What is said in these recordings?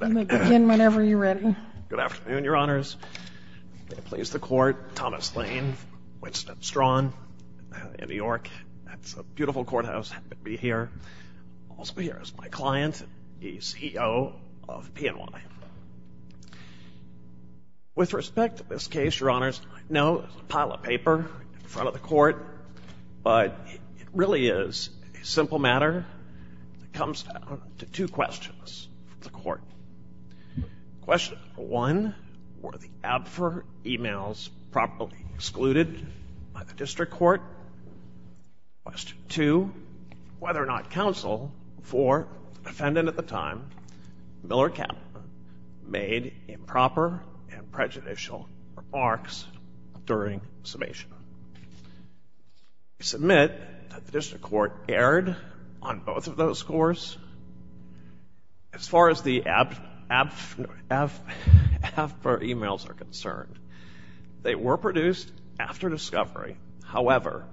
I'm going to begin whenever you're ready. Good afternoon, Your Honors. May it please the Court. Thomas Lane, Winston Strawn in New York. It's a beautiful courthouse, happy to be here. Also here is my client, the CEO of PNY. With respect to this case, Your Honors, I know it's a pile of paper in front of the Court, but it really is a simple matter that comes down to two questions from the Court. Question one, were the ABFR emails properly excluded by the District Court? Question two, whether or not counsel for the defendant at the time, Miller Kaplan, made improper and prejudicial remarks during summation? I submit that the District Court erred on both of those scores. As far as the ABFR emails are concerned, they were produced after discovery. However,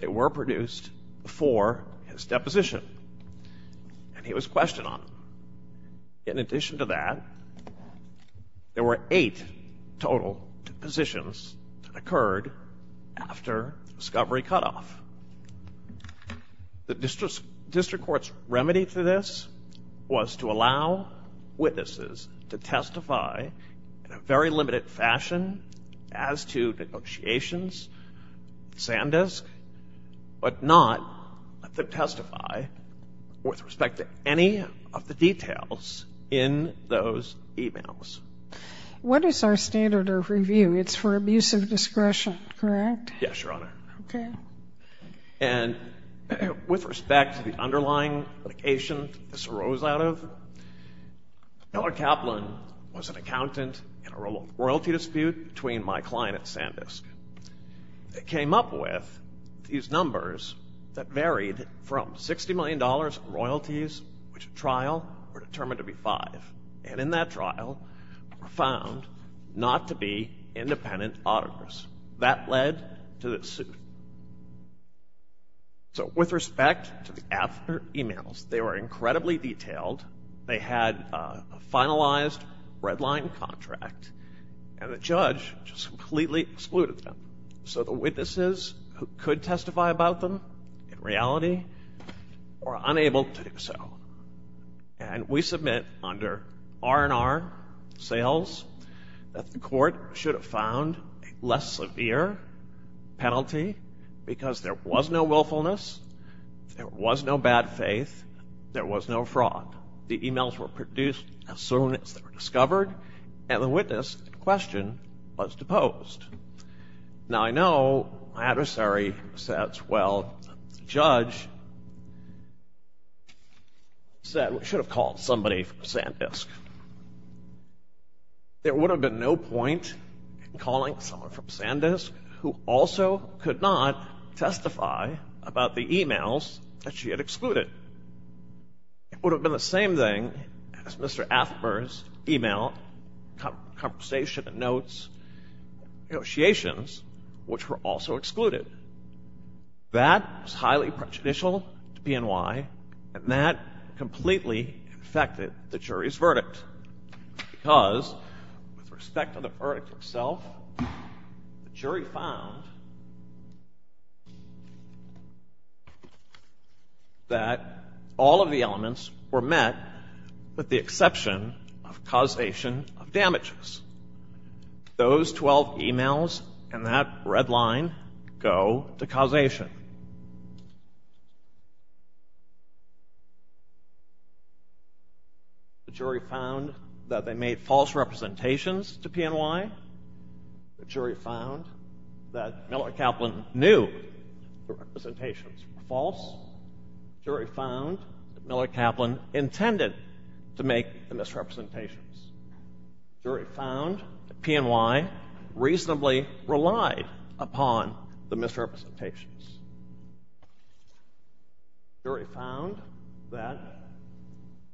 they were produced before his deposition, and he was questioned on them. In addition to that, there were eight total depositions that occurred after discovery cutoff. The District Court's remedy to this was to allow witnesses to testify in a very limited fashion as to negotiations, sandisk, but not to testify with respect to any of the details in those emails. What is our standard of review? It's for abuse of discretion, correct? Yes, Your Honor. Okay. And with respect to the underlying litigation this arose out of, Miller Kaplan was an accountant in a royalty dispute between my client at Sandisk. They came up with these numbers that varied from $60 million in royalties, which at trial were determined to be five, and in that trial were found not to be independent auditors. That led to this suit. So with respect to the ABFR emails, they were incredibly detailed. They had a finalized redline contract, and the judge just completely excluded them. So the witnesses who could testify about them in reality were unable to do so. And we submit under R&R sales that the court should have found a less severe penalty because there was no willfulness, there was no bad faith, there was no fraud. The emails were produced as soon as they were discovered, and the witness in question was deposed. Now, I know my adversary says, well, the judge should have called somebody from Sandisk. There would have been no point in calling someone from Sandisk who also could not testify about the emails that she had excluded. It would have been the same thing as Mr. Athmer's email, conversation notes, negotiations, which were also excluded. That was highly prejudicial to PNY, and that completely affected the jury's verdict because, with respect to the verdict itself, the jury found that all of the elements were met with the exception of causation of damages. Those 12 emails and that red line go to causation. The jury found that they made false representations to PNY. The jury found that Miller Kaplan knew the representations were false. The jury found that Miller Kaplan intended to make the misrepresentations. The jury found that PNY reasonably relied upon the misrepresentations. The jury found that,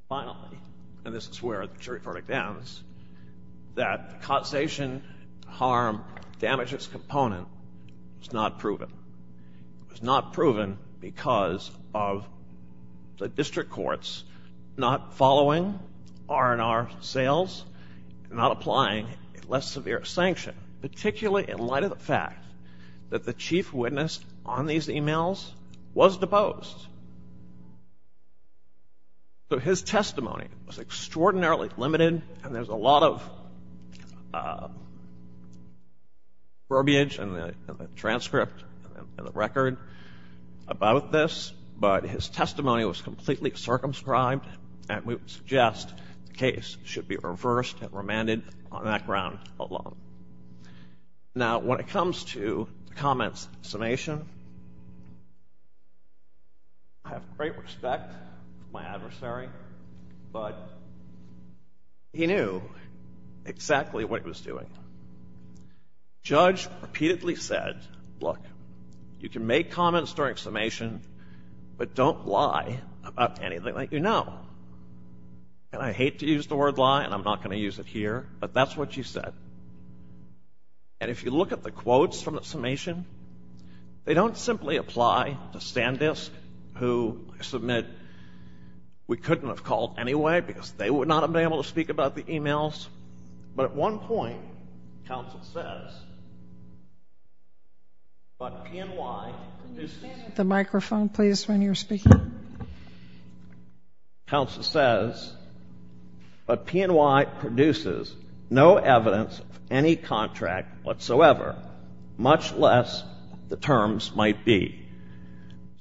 finally, and this is where the jury verdict ends, that causation harm damages component was not proven. It was not proven because of the district courts not following R&R sales and not applying a less severe sanction, particularly in light of the fact that the chief witness on these emails was deposed. So his testimony was extraordinarily limited, and there's a lot of verbiage in the transcript and the record about this, but his testimony was completely circumscribed, and we would suggest the case should be reversed and remanded on that ground alone. Now, when it comes to the comment's summation, I have great respect for my adversary, but he knew exactly what he was doing. Judge repeatedly said, look, you can make comments during summation, but don't lie about anything that you know. And I hate to use the word lie, and I'm not going to use it here, but that's what she said. And if you look at the quotes from the summation, they don't simply apply to Sandisk, who I submit we couldn't have called anyway because they would not have been able to speak about the emails. But at one point, counsel says, but P&Y produces... Can you stand at the microphone, please, when you're speaking? Counsel says, but P&Y produces no evidence of any contract whatsoever, much less the terms might be.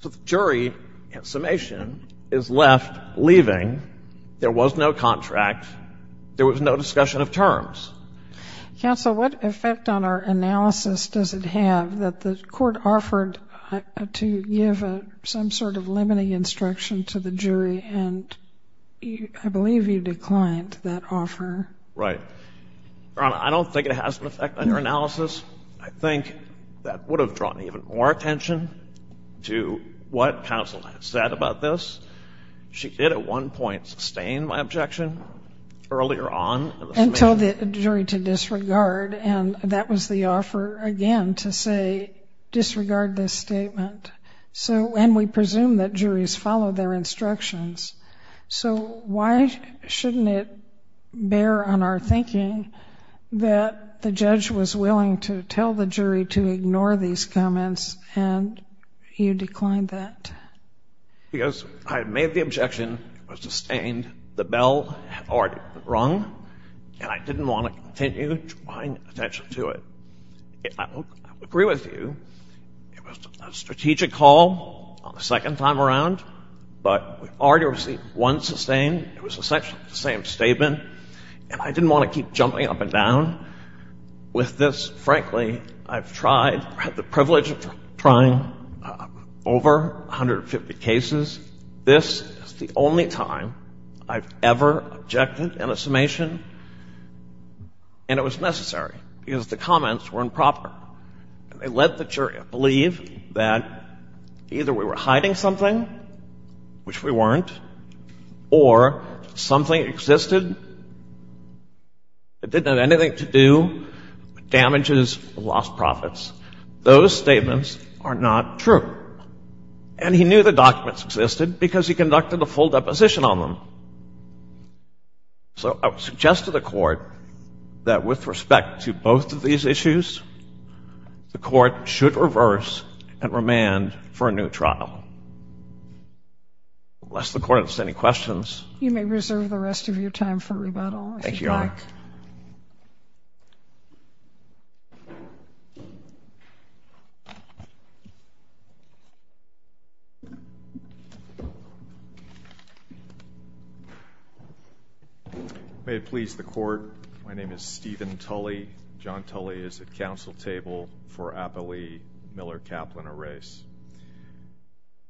So the jury at summation is left leaving. There was no contract. There was no discussion of terms. Counsel, what effect on our analysis does it have that the Court offered to give some sort of limiting instruction to the jury, and I believe you declined that offer. Right. Your Honor, I don't think it has an effect on your analysis. I think that would have drawn even more attention to what counsel had said about this. She did at one point sustain my objection earlier on. And told the jury to disregard, and that was the offer again to say disregard this statement. And we presume that juries follow their instructions. So why shouldn't it bear on our thinking that the judge was willing to tell the jury to ignore these comments and you declined that? Because I made the objection. It was sustained. The bell had already been rung, and I didn't want to continue drawing attention to it. I agree with you. It was a strategic call on the second time around, but we already received one sustain. It was essentially the same statement, and I didn't want to keep jumping up and down with this. Frankly, I've tried, had the privilege of trying over 150 cases. This is the only time I've ever objected in a summation, and it was necessary because the comments were improper. They let the jury believe that either we were hiding something, which we weren't, or something existed that didn't have anything to do with damages or lost profits. Those statements are not true. And he knew the documents existed because he conducted a full deposition on them. So I would suggest to the Court that with respect to both of these issues, the Court should reverse and remand for a new trial. Unless the Court has any questions. You may reserve the rest of your time for rebuttal. Thank you, Your Honor. May it please the Court. My name is Stephen Tully. John Tully is at council table for Appelee, Miller, Kaplan, and Reyes.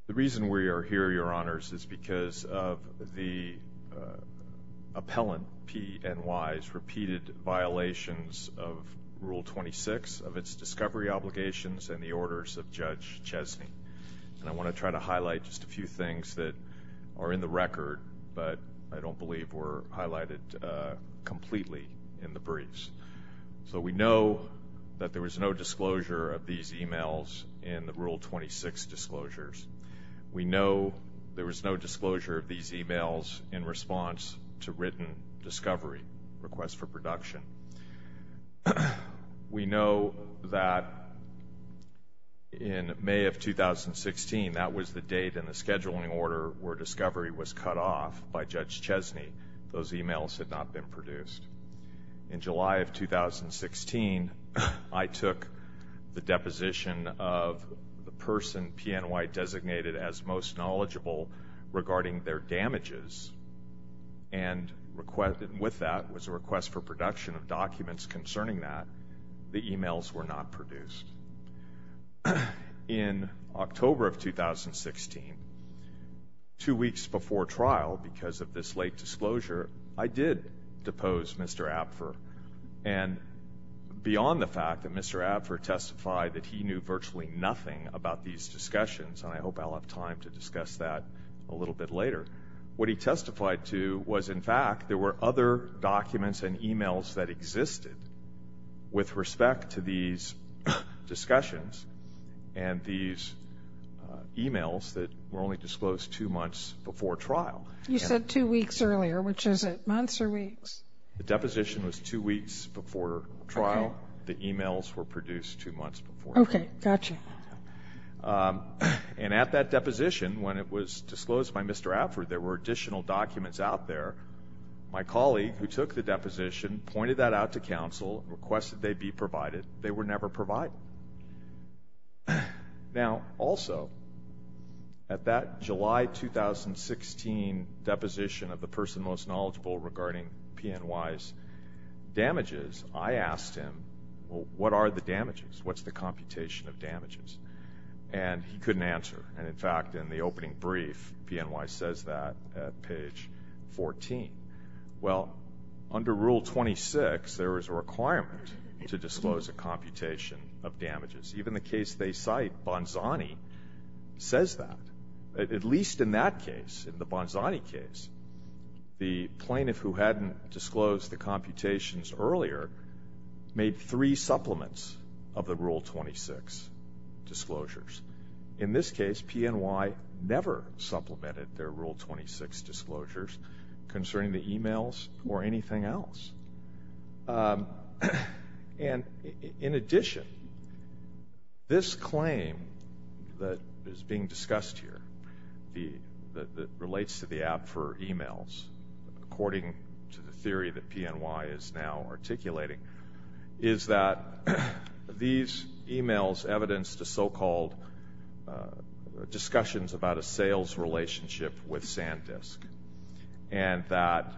The reason we are here, Your Honors, is because of the appellant, P. N. Wise, repeated violations of Rule 26 of its discovery obligations and the orders of Judge Chesney. And I want to try to highlight just a few things that are in the record, but I don't believe were highlighted completely in the briefs. So we know that there was no disclosure of these e-mails in the Rule 26 disclosures. We know there was no disclosure of these e-mails in response to written discovery requests for production. We know that in May of 2016, that was the date in the scheduling order where discovery was cut off by Judge Chesney. Those e-mails had not been produced. In July of 2016, I took the deposition of the person P. N. Wise designated as most knowledgeable regarding their damages and with that was a request for production of documents concerning that. The e-mails were not produced. In October of 2016, two weeks before trial because of this late disclosure, I did depose Mr. Apfer. And beyond the fact that Mr. Apfer testified that he knew virtually nothing about these discussions, and I hope I'll have time to discuss that a little bit later, what he testified to was, in fact, there were other documents and e-mails that existed with respect to these discussions and these e-mails that were only disclosed two months before trial. You said two weeks earlier. Which is it, months or weeks? The deposition was two weeks before trial. The e-mails were produced two months before trial. Okay, gotcha. And at that deposition, when it was disclosed by Mr. Apfer, there were additional documents out there. My colleague who took the deposition pointed that out to counsel and requested they be provided. They were never provided. Now, also, at that July 2016 deposition of the person most knowledgeable regarding PNY's damages, I asked him, well, what are the damages? What's the computation of damages? And he couldn't answer. And, in fact, in the opening brief, PNY says that at page 14. Well, under Rule 26, there is a requirement to disclose a computation of damages. Even the case they cite, Bonzani, says that. At least in that case, in the Bonzani case, the plaintiff who hadn't disclosed the computations earlier made three supplements of the Rule 26 disclosures. In this case, PNY never supplemented their Rule 26 disclosures concerning the e-mails or anything else. And, in addition, this claim that is being discussed here that relates to the Apfer e-mails, according to the theory that PNY is now articulating, is that these e-mails evidence the so-called discussions about a sales relationship with SanDisk and that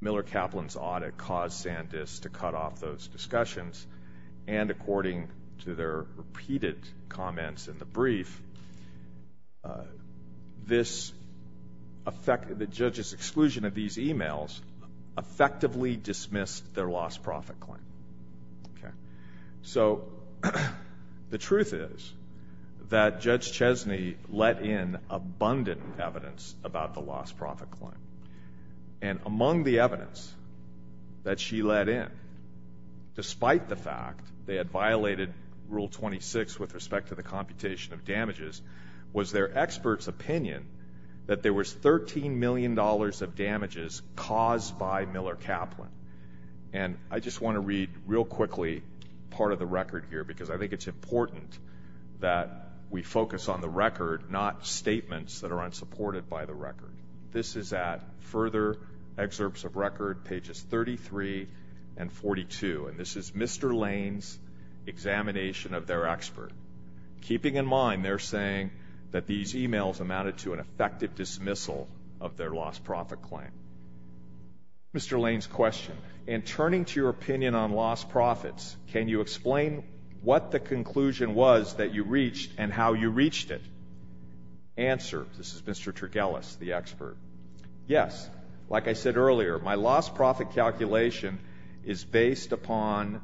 Miller Kaplan's audit caused SanDisk to cut off those discussions. And, according to their repeated comments in the brief, the judge's exclusion of these e-mails effectively dismissed their lost profit claim. So, the truth is that Judge Chesney let in abundant evidence about the lost profit claim. And among the evidence that she let in, despite the fact they had violated Rule 26 with respect to the computation of damages, was their experts' opinion that there was $13 million of damages caused by Miller Kaplan. And I just want to read real quickly part of the record here because I think it's important that we focus on the record, not statements that are unsupported by the record. This is at Further Excerpts of Record, pages 33 and 42. And this is Mr. Lane's examination of their expert, keeping in mind they're saying that these e-mails amounted to an effective dismissal of their lost profit claim. Mr. Lane's question. In turning to your opinion on lost profits, can you explain what the conclusion was that you reached and how you reached it? Answer, this is Mr. Tergelis, the expert. Yes, like I said earlier, my lost profit calculation is based on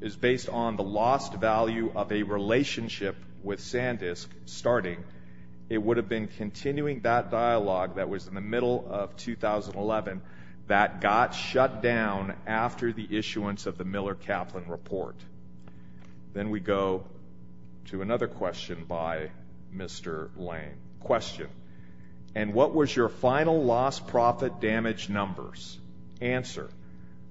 the lost value of a relationship with SanDisk starting. It would have been continuing that dialogue that was in the middle of 2011 that got shut down after the issuance of the Miller Kaplan report. Then we go to another question by Mr. Lane. Question. And what was your final lost profit damage numbers? Answer.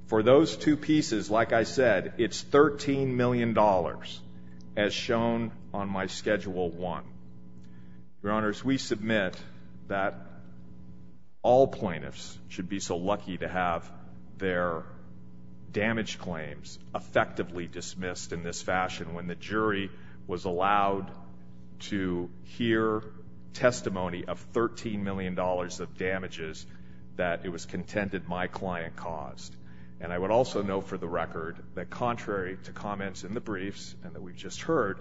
For those two pieces, like I said, it's $13 million, as shown on my Schedule 1. Your Honors, we submit that all plaintiffs should be so lucky to have their damage claims effectively dismissed in this fashion when the jury was allowed to hear testimony of $13 million of damages that it was contended my client caused. And I would also note for the record that contrary to comments in the briefs and that we just heard,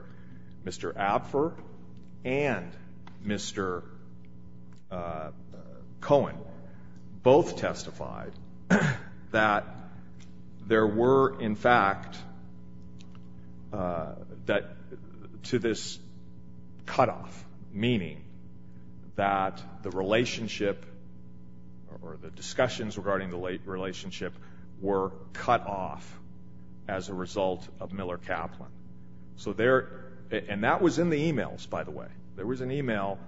Mr. Apfer and Mr. Cohen both testified that there were, in fact, to this cutoff, meaning that the relationship or the discussions regarding the relationship were cut off as a result of Miller Kaplan. And that was in the e-mails, by the way. There was an e-mail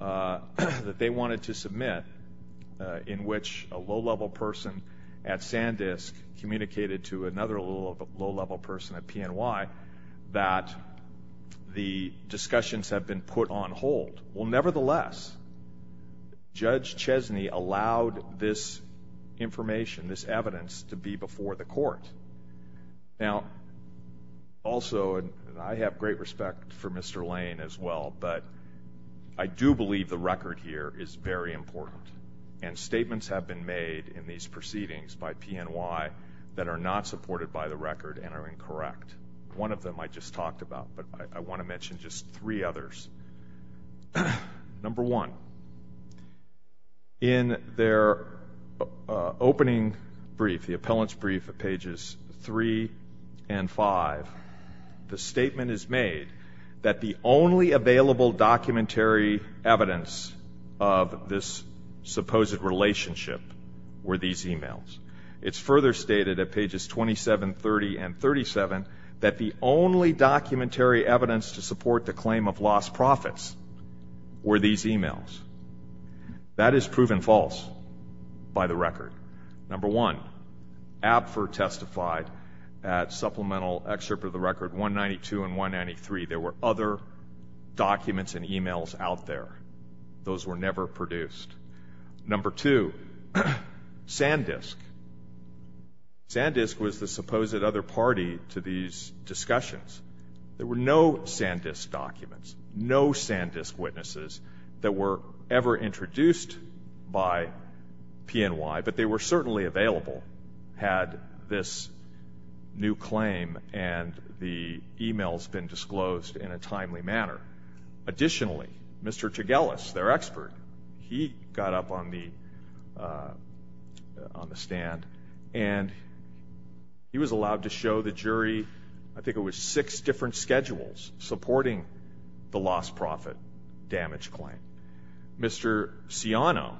that they wanted to submit in which a low-level person at SanDisk communicated to another low-level person at PNY that the discussions have been put on hold. Well, nevertheless, Judge Chesney allowed this information, this evidence to be before the Court. Now, also, and I have great respect for Mr. Lane as well, but I do believe the record here is very important. And statements have been made in these proceedings by PNY that are not supported by the record and are incorrect. One of them I just talked about, but I want to mention just three others. Number one, in their opening brief, the appellant's brief at pages 3 and 5, the statement is made that the only available documentary evidence of this supposed relationship were these e-mails. It's further stated at pages 27, 30, and 37 that the only documentary evidence to support the claim of lost profits were these e-mails. That is proven false by the record. Number one, ABFR testified at supplemental excerpt of the record 192 and 193. There were other documents and e-mails out there. Those were never produced. Number two, SanDisk. SanDisk was the supposed other party to these discussions. There were no SanDisk documents, no SanDisk witnesses that were ever introduced by PNY, but they were certainly available had this new claim and the e-mails been disclosed in a timely manner. Additionally, Mr. Tegeles, their expert, he got up on the stand, and he was allowed to show the jury, I think it was six different schedules, supporting the lost profit damage claim. Mr. Siano,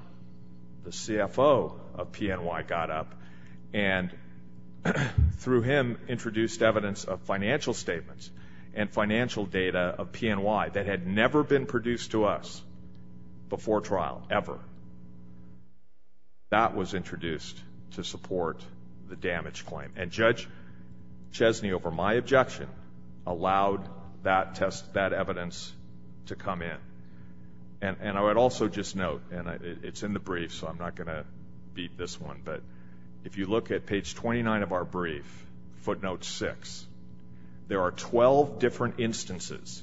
the CFO of PNY, got up and, through him, introduced evidence of financial statements and financial data of PNY that had never been produced to us before trial, ever. That was introduced to support the damage claim. And Judge Chesney, over my objection, allowed that evidence to come in. And I would also just note, and it's in the brief, so I'm not going to beat this one, but if you look at page 29 of our brief, footnote 6, there are 12 different instances,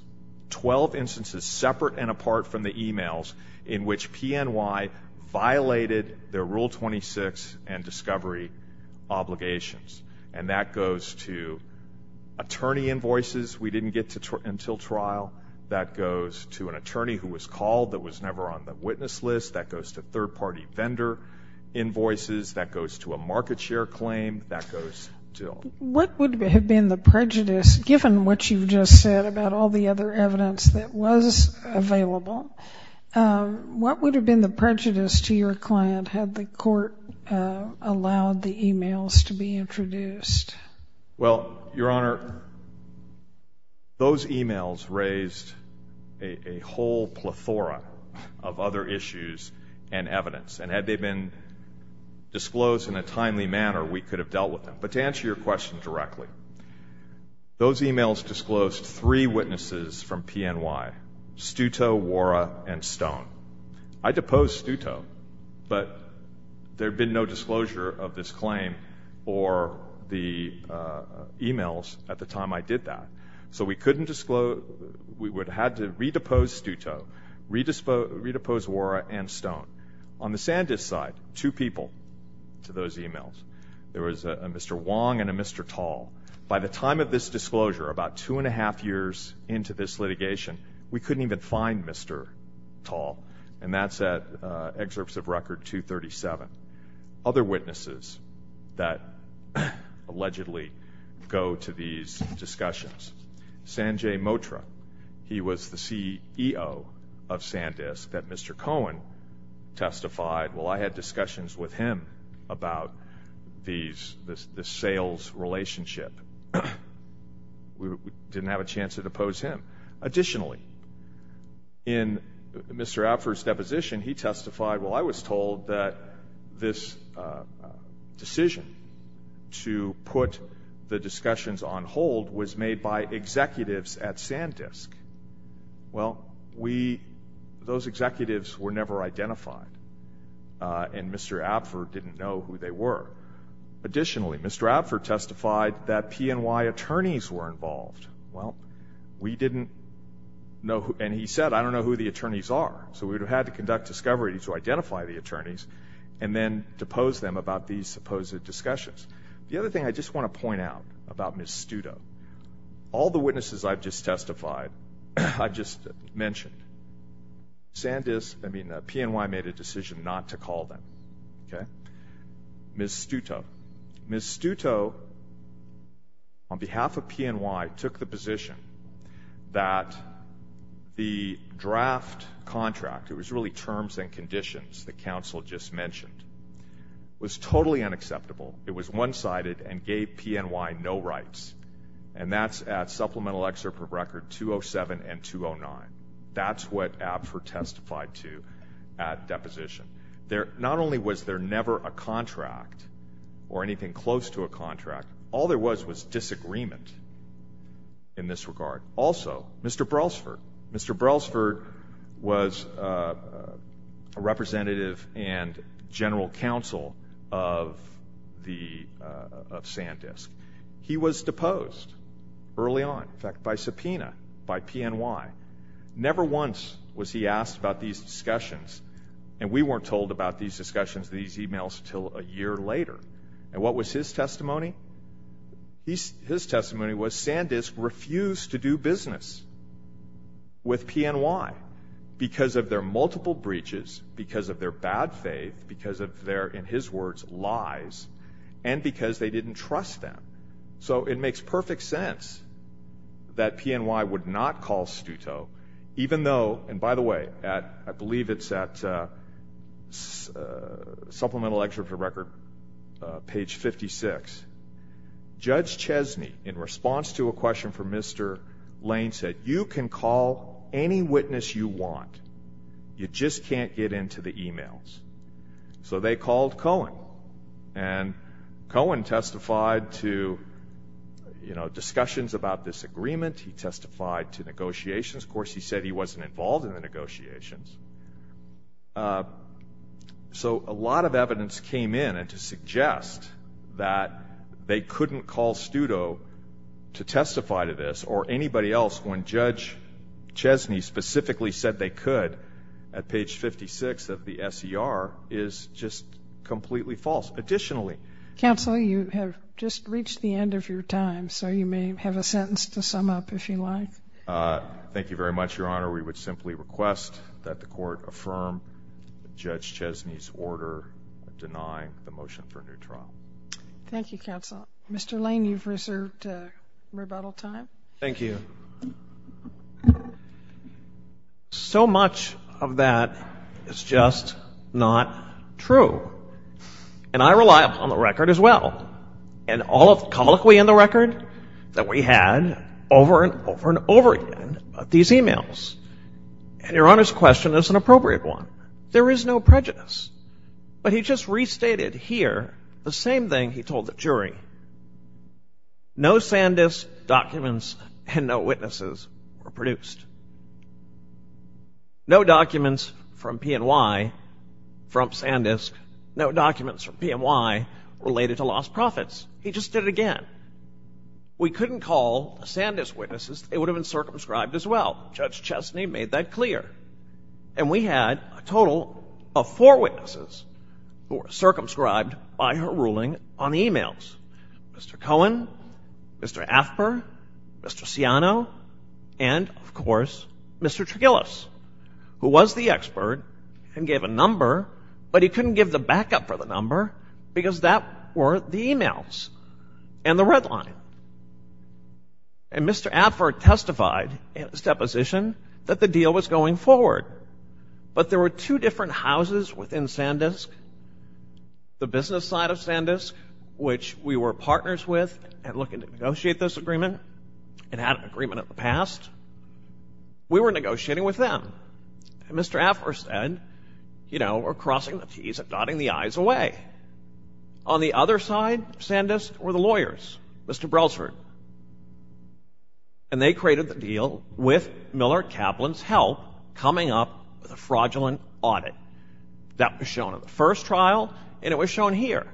12 instances separate and apart from the e-mails, in which PNY violated their Rule 26 and discovery obligations. And that goes to attorney invoices we didn't get until trial. That goes to an attorney who was called that was never on the witness list. That goes to third-party vendor invoices. That goes to a market share claim. That goes to all. What would have been the prejudice, given what you've just said about all the other evidence that was available, what would have been the prejudice to your client had the court allowed the e-mails to be introduced? Well, Your Honor, those e-mails raised a whole plethora of other issues and evidence. And had they been disclosed in a timely manner, we could have dealt with them. But to answer your question directly, those e-mails disclosed three witnesses from PNY, Stuto, Wora, and Stone. I deposed Stuto, but there had been no disclosure of this claim or the e-mails at the time I did that. So we would have had to redepose Stuto, redepose Wora, and Stone. On the Sandisk side, two people to those e-mails. There was a Mr. Wong and a Mr. Tall. By the time of this disclosure, about two and a half years into this litigation, we couldn't even find Mr. Tall. And that's at Excerpts of Record 237. Other witnesses that allegedly go to these discussions. Sanjay Motra, he was the CEO of Sandisk that Mr. Cohen testified. Well, I had discussions with him about this sales relationship. We didn't have a chance to depose him. Additionally, in Mr. Alford's deposition, he testified, well, I was told that this decision to put the discussions on hold was made by executives at Sandisk. Well, we, those executives were never identified. And Mr. Alford didn't know who they were. Additionally, Mr. Alford testified that PNY attorneys were involved. Well, we didn't know, and he said, I don't know who the attorneys are. So we would have had to conduct discovery to identify the attorneys and then depose them about these supposed discussions. The other thing I just want to point out about Ms. Stuto. All the witnesses I've just testified, I've just mentioned. PNY made a decision not to call them. Ms. Stuto, on behalf of PNY, took the position that the draft contract, it was really terms and conditions that counsel just mentioned, was totally unacceptable. It was one-sided and gave PNY no rights. And that's at Supplemental Excerpt of Record 207 and 209. That's what Alford testified to at deposition. Not only was there never a contract or anything close to a contract, all there was was disagreement in this regard. Also, Mr. Brelsford. Mr. Brelsford was a representative and general counsel of Sandisk. He was deposed early on, in fact, by subpoena by PNY. Never once was he asked about these discussions, and we weren't told about these discussions, these emails, until a year later. And what was his testimony? His testimony was Sandisk refused to do business with PNY because of their multiple breaches, because of their bad faith, because of their, in his words, lies, and because they didn't trust them. So it makes perfect sense that PNY would not call Stuto, even though, and by the way, I believe it's at Supplemental Excerpt of Record page 56. Judge Chesney, in response to a question from Mr. Lane, said, you can call any witness you want, you just can't get into the emails. So they called Cohen, and Cohen testified to discussions about this agreement. He testified to negotiations. Of course, he said he wasn't involved in the negotiations. So a lot of evidence came in to suggest that they couldn't call Stuto to testify to this, or anybody else when Judge Chesney specifically said they could at page 56 of the SER is just completely false. Additionally, Counsel, you have just reached the end of your time, so you may have a sentence to sum up if you like. Thank you very much, Your Honor. We would simply request that the Court affirm Judge Chesney's order of denying the motion for a new trial. Thank you, Counsel. Mr. Lane, you've reserved rebuttal time. Thank you. So much of that is just not true. And I rely upon the record as well. And all of the colloquy in the record that we had over and over and over again about these emails. And Your Honor's question is an appropriate one. There is no prejudice. But he just restated here the same thing he told the jury. No SanDisk documents and no witnesses were produced. No documents from PNY, from SanDisk, no documents from PNY related to lost profits. He just did it again. We couldn't call SanDisk witnesses. They would have been circumscribed as well. Judge Chesney made that clear. And we had a total of four witnesses who were circumscribed by her ruling on the emails. Mr. Cohen, Mr. Affer, Mr. Siano, and, of course, Mr. Tregellos, who was the expert and gave a number. But he couldn't give the backup for the number because that were the emails and the red line. And Mr. Affer testified in his deposition that the deal was going forward. But there were two different houses within SanDisk, the business side of SanDisk, which we were partners with and looking to negotiate this agreement and had an agreement in the past. We were negotiating with them. And Mr. Affer said, you know, we're crossing the T's and dotting the I's away. On the other side of SanDisk were the lawyers, Mr. Brelsford. And they created the deal with Miller Kaplan's help, coming up with a fraudulent audit. That was shown in the first trial, and it was shown here.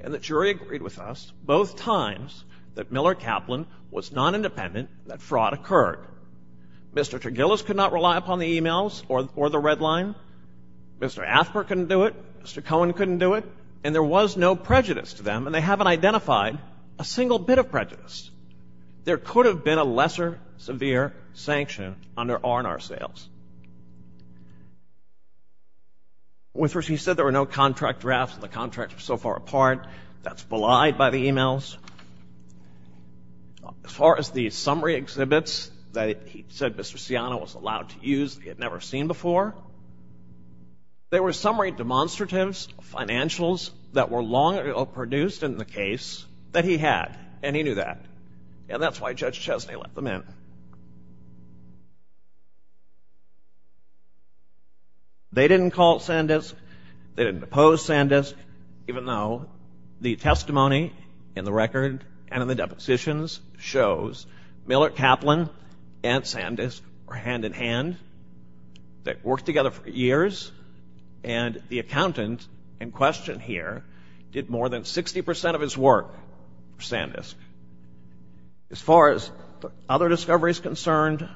And the jury agreed with us both times that Miller Kaplan was not independent, that fraud occurred. Mr. Tregellos could not rely upon the emails or the red line. Mr. Affer couldn't do it. Mr. Cohen couldn't do it. And there was no prejudice to them, and they haven't identified a single bit of prejudice. There could have been a lesser severe sanction under R&R sales. He said there were no contract drafts and the contracts were so far apart. That's belied by the emails. As far as the summary exhibits that he said Mr. Siano was allowed to use that he had never seen before, there were summary demonstratives, financials that were long produced in the case that he had, and he knew that. And that's why Judge Chesney let them in. They didn't call it SanDisk. They didn't oppose SanDisk, even though the testimony in the record and in the depositions shows Miller Kaplan and SanDisk were hand-in-hand. They worked together for years, and the accountant in question here did more than 60 percent of his work for SanDisk. As far as other discoveries concerned,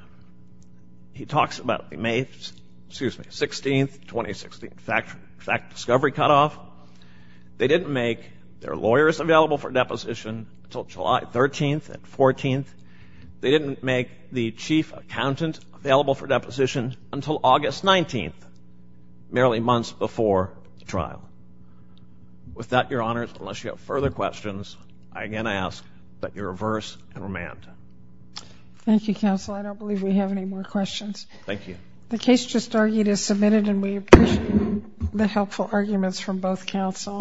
he talks about May 16, 2016, fact discovery cutoff. They didn't make their lawyers available for deposition until July 13 and 14. They didn't make the chief accountant available for deposition until August 19, merely months before the trial. With that, Your Honors, unless you have further questions, I again ask that you reverse and remand. Thank you, Counsel. I don't believe we have any more questions. Thank you. The case just argued is submitted, and we appreciate the helpful arguments from both counsel.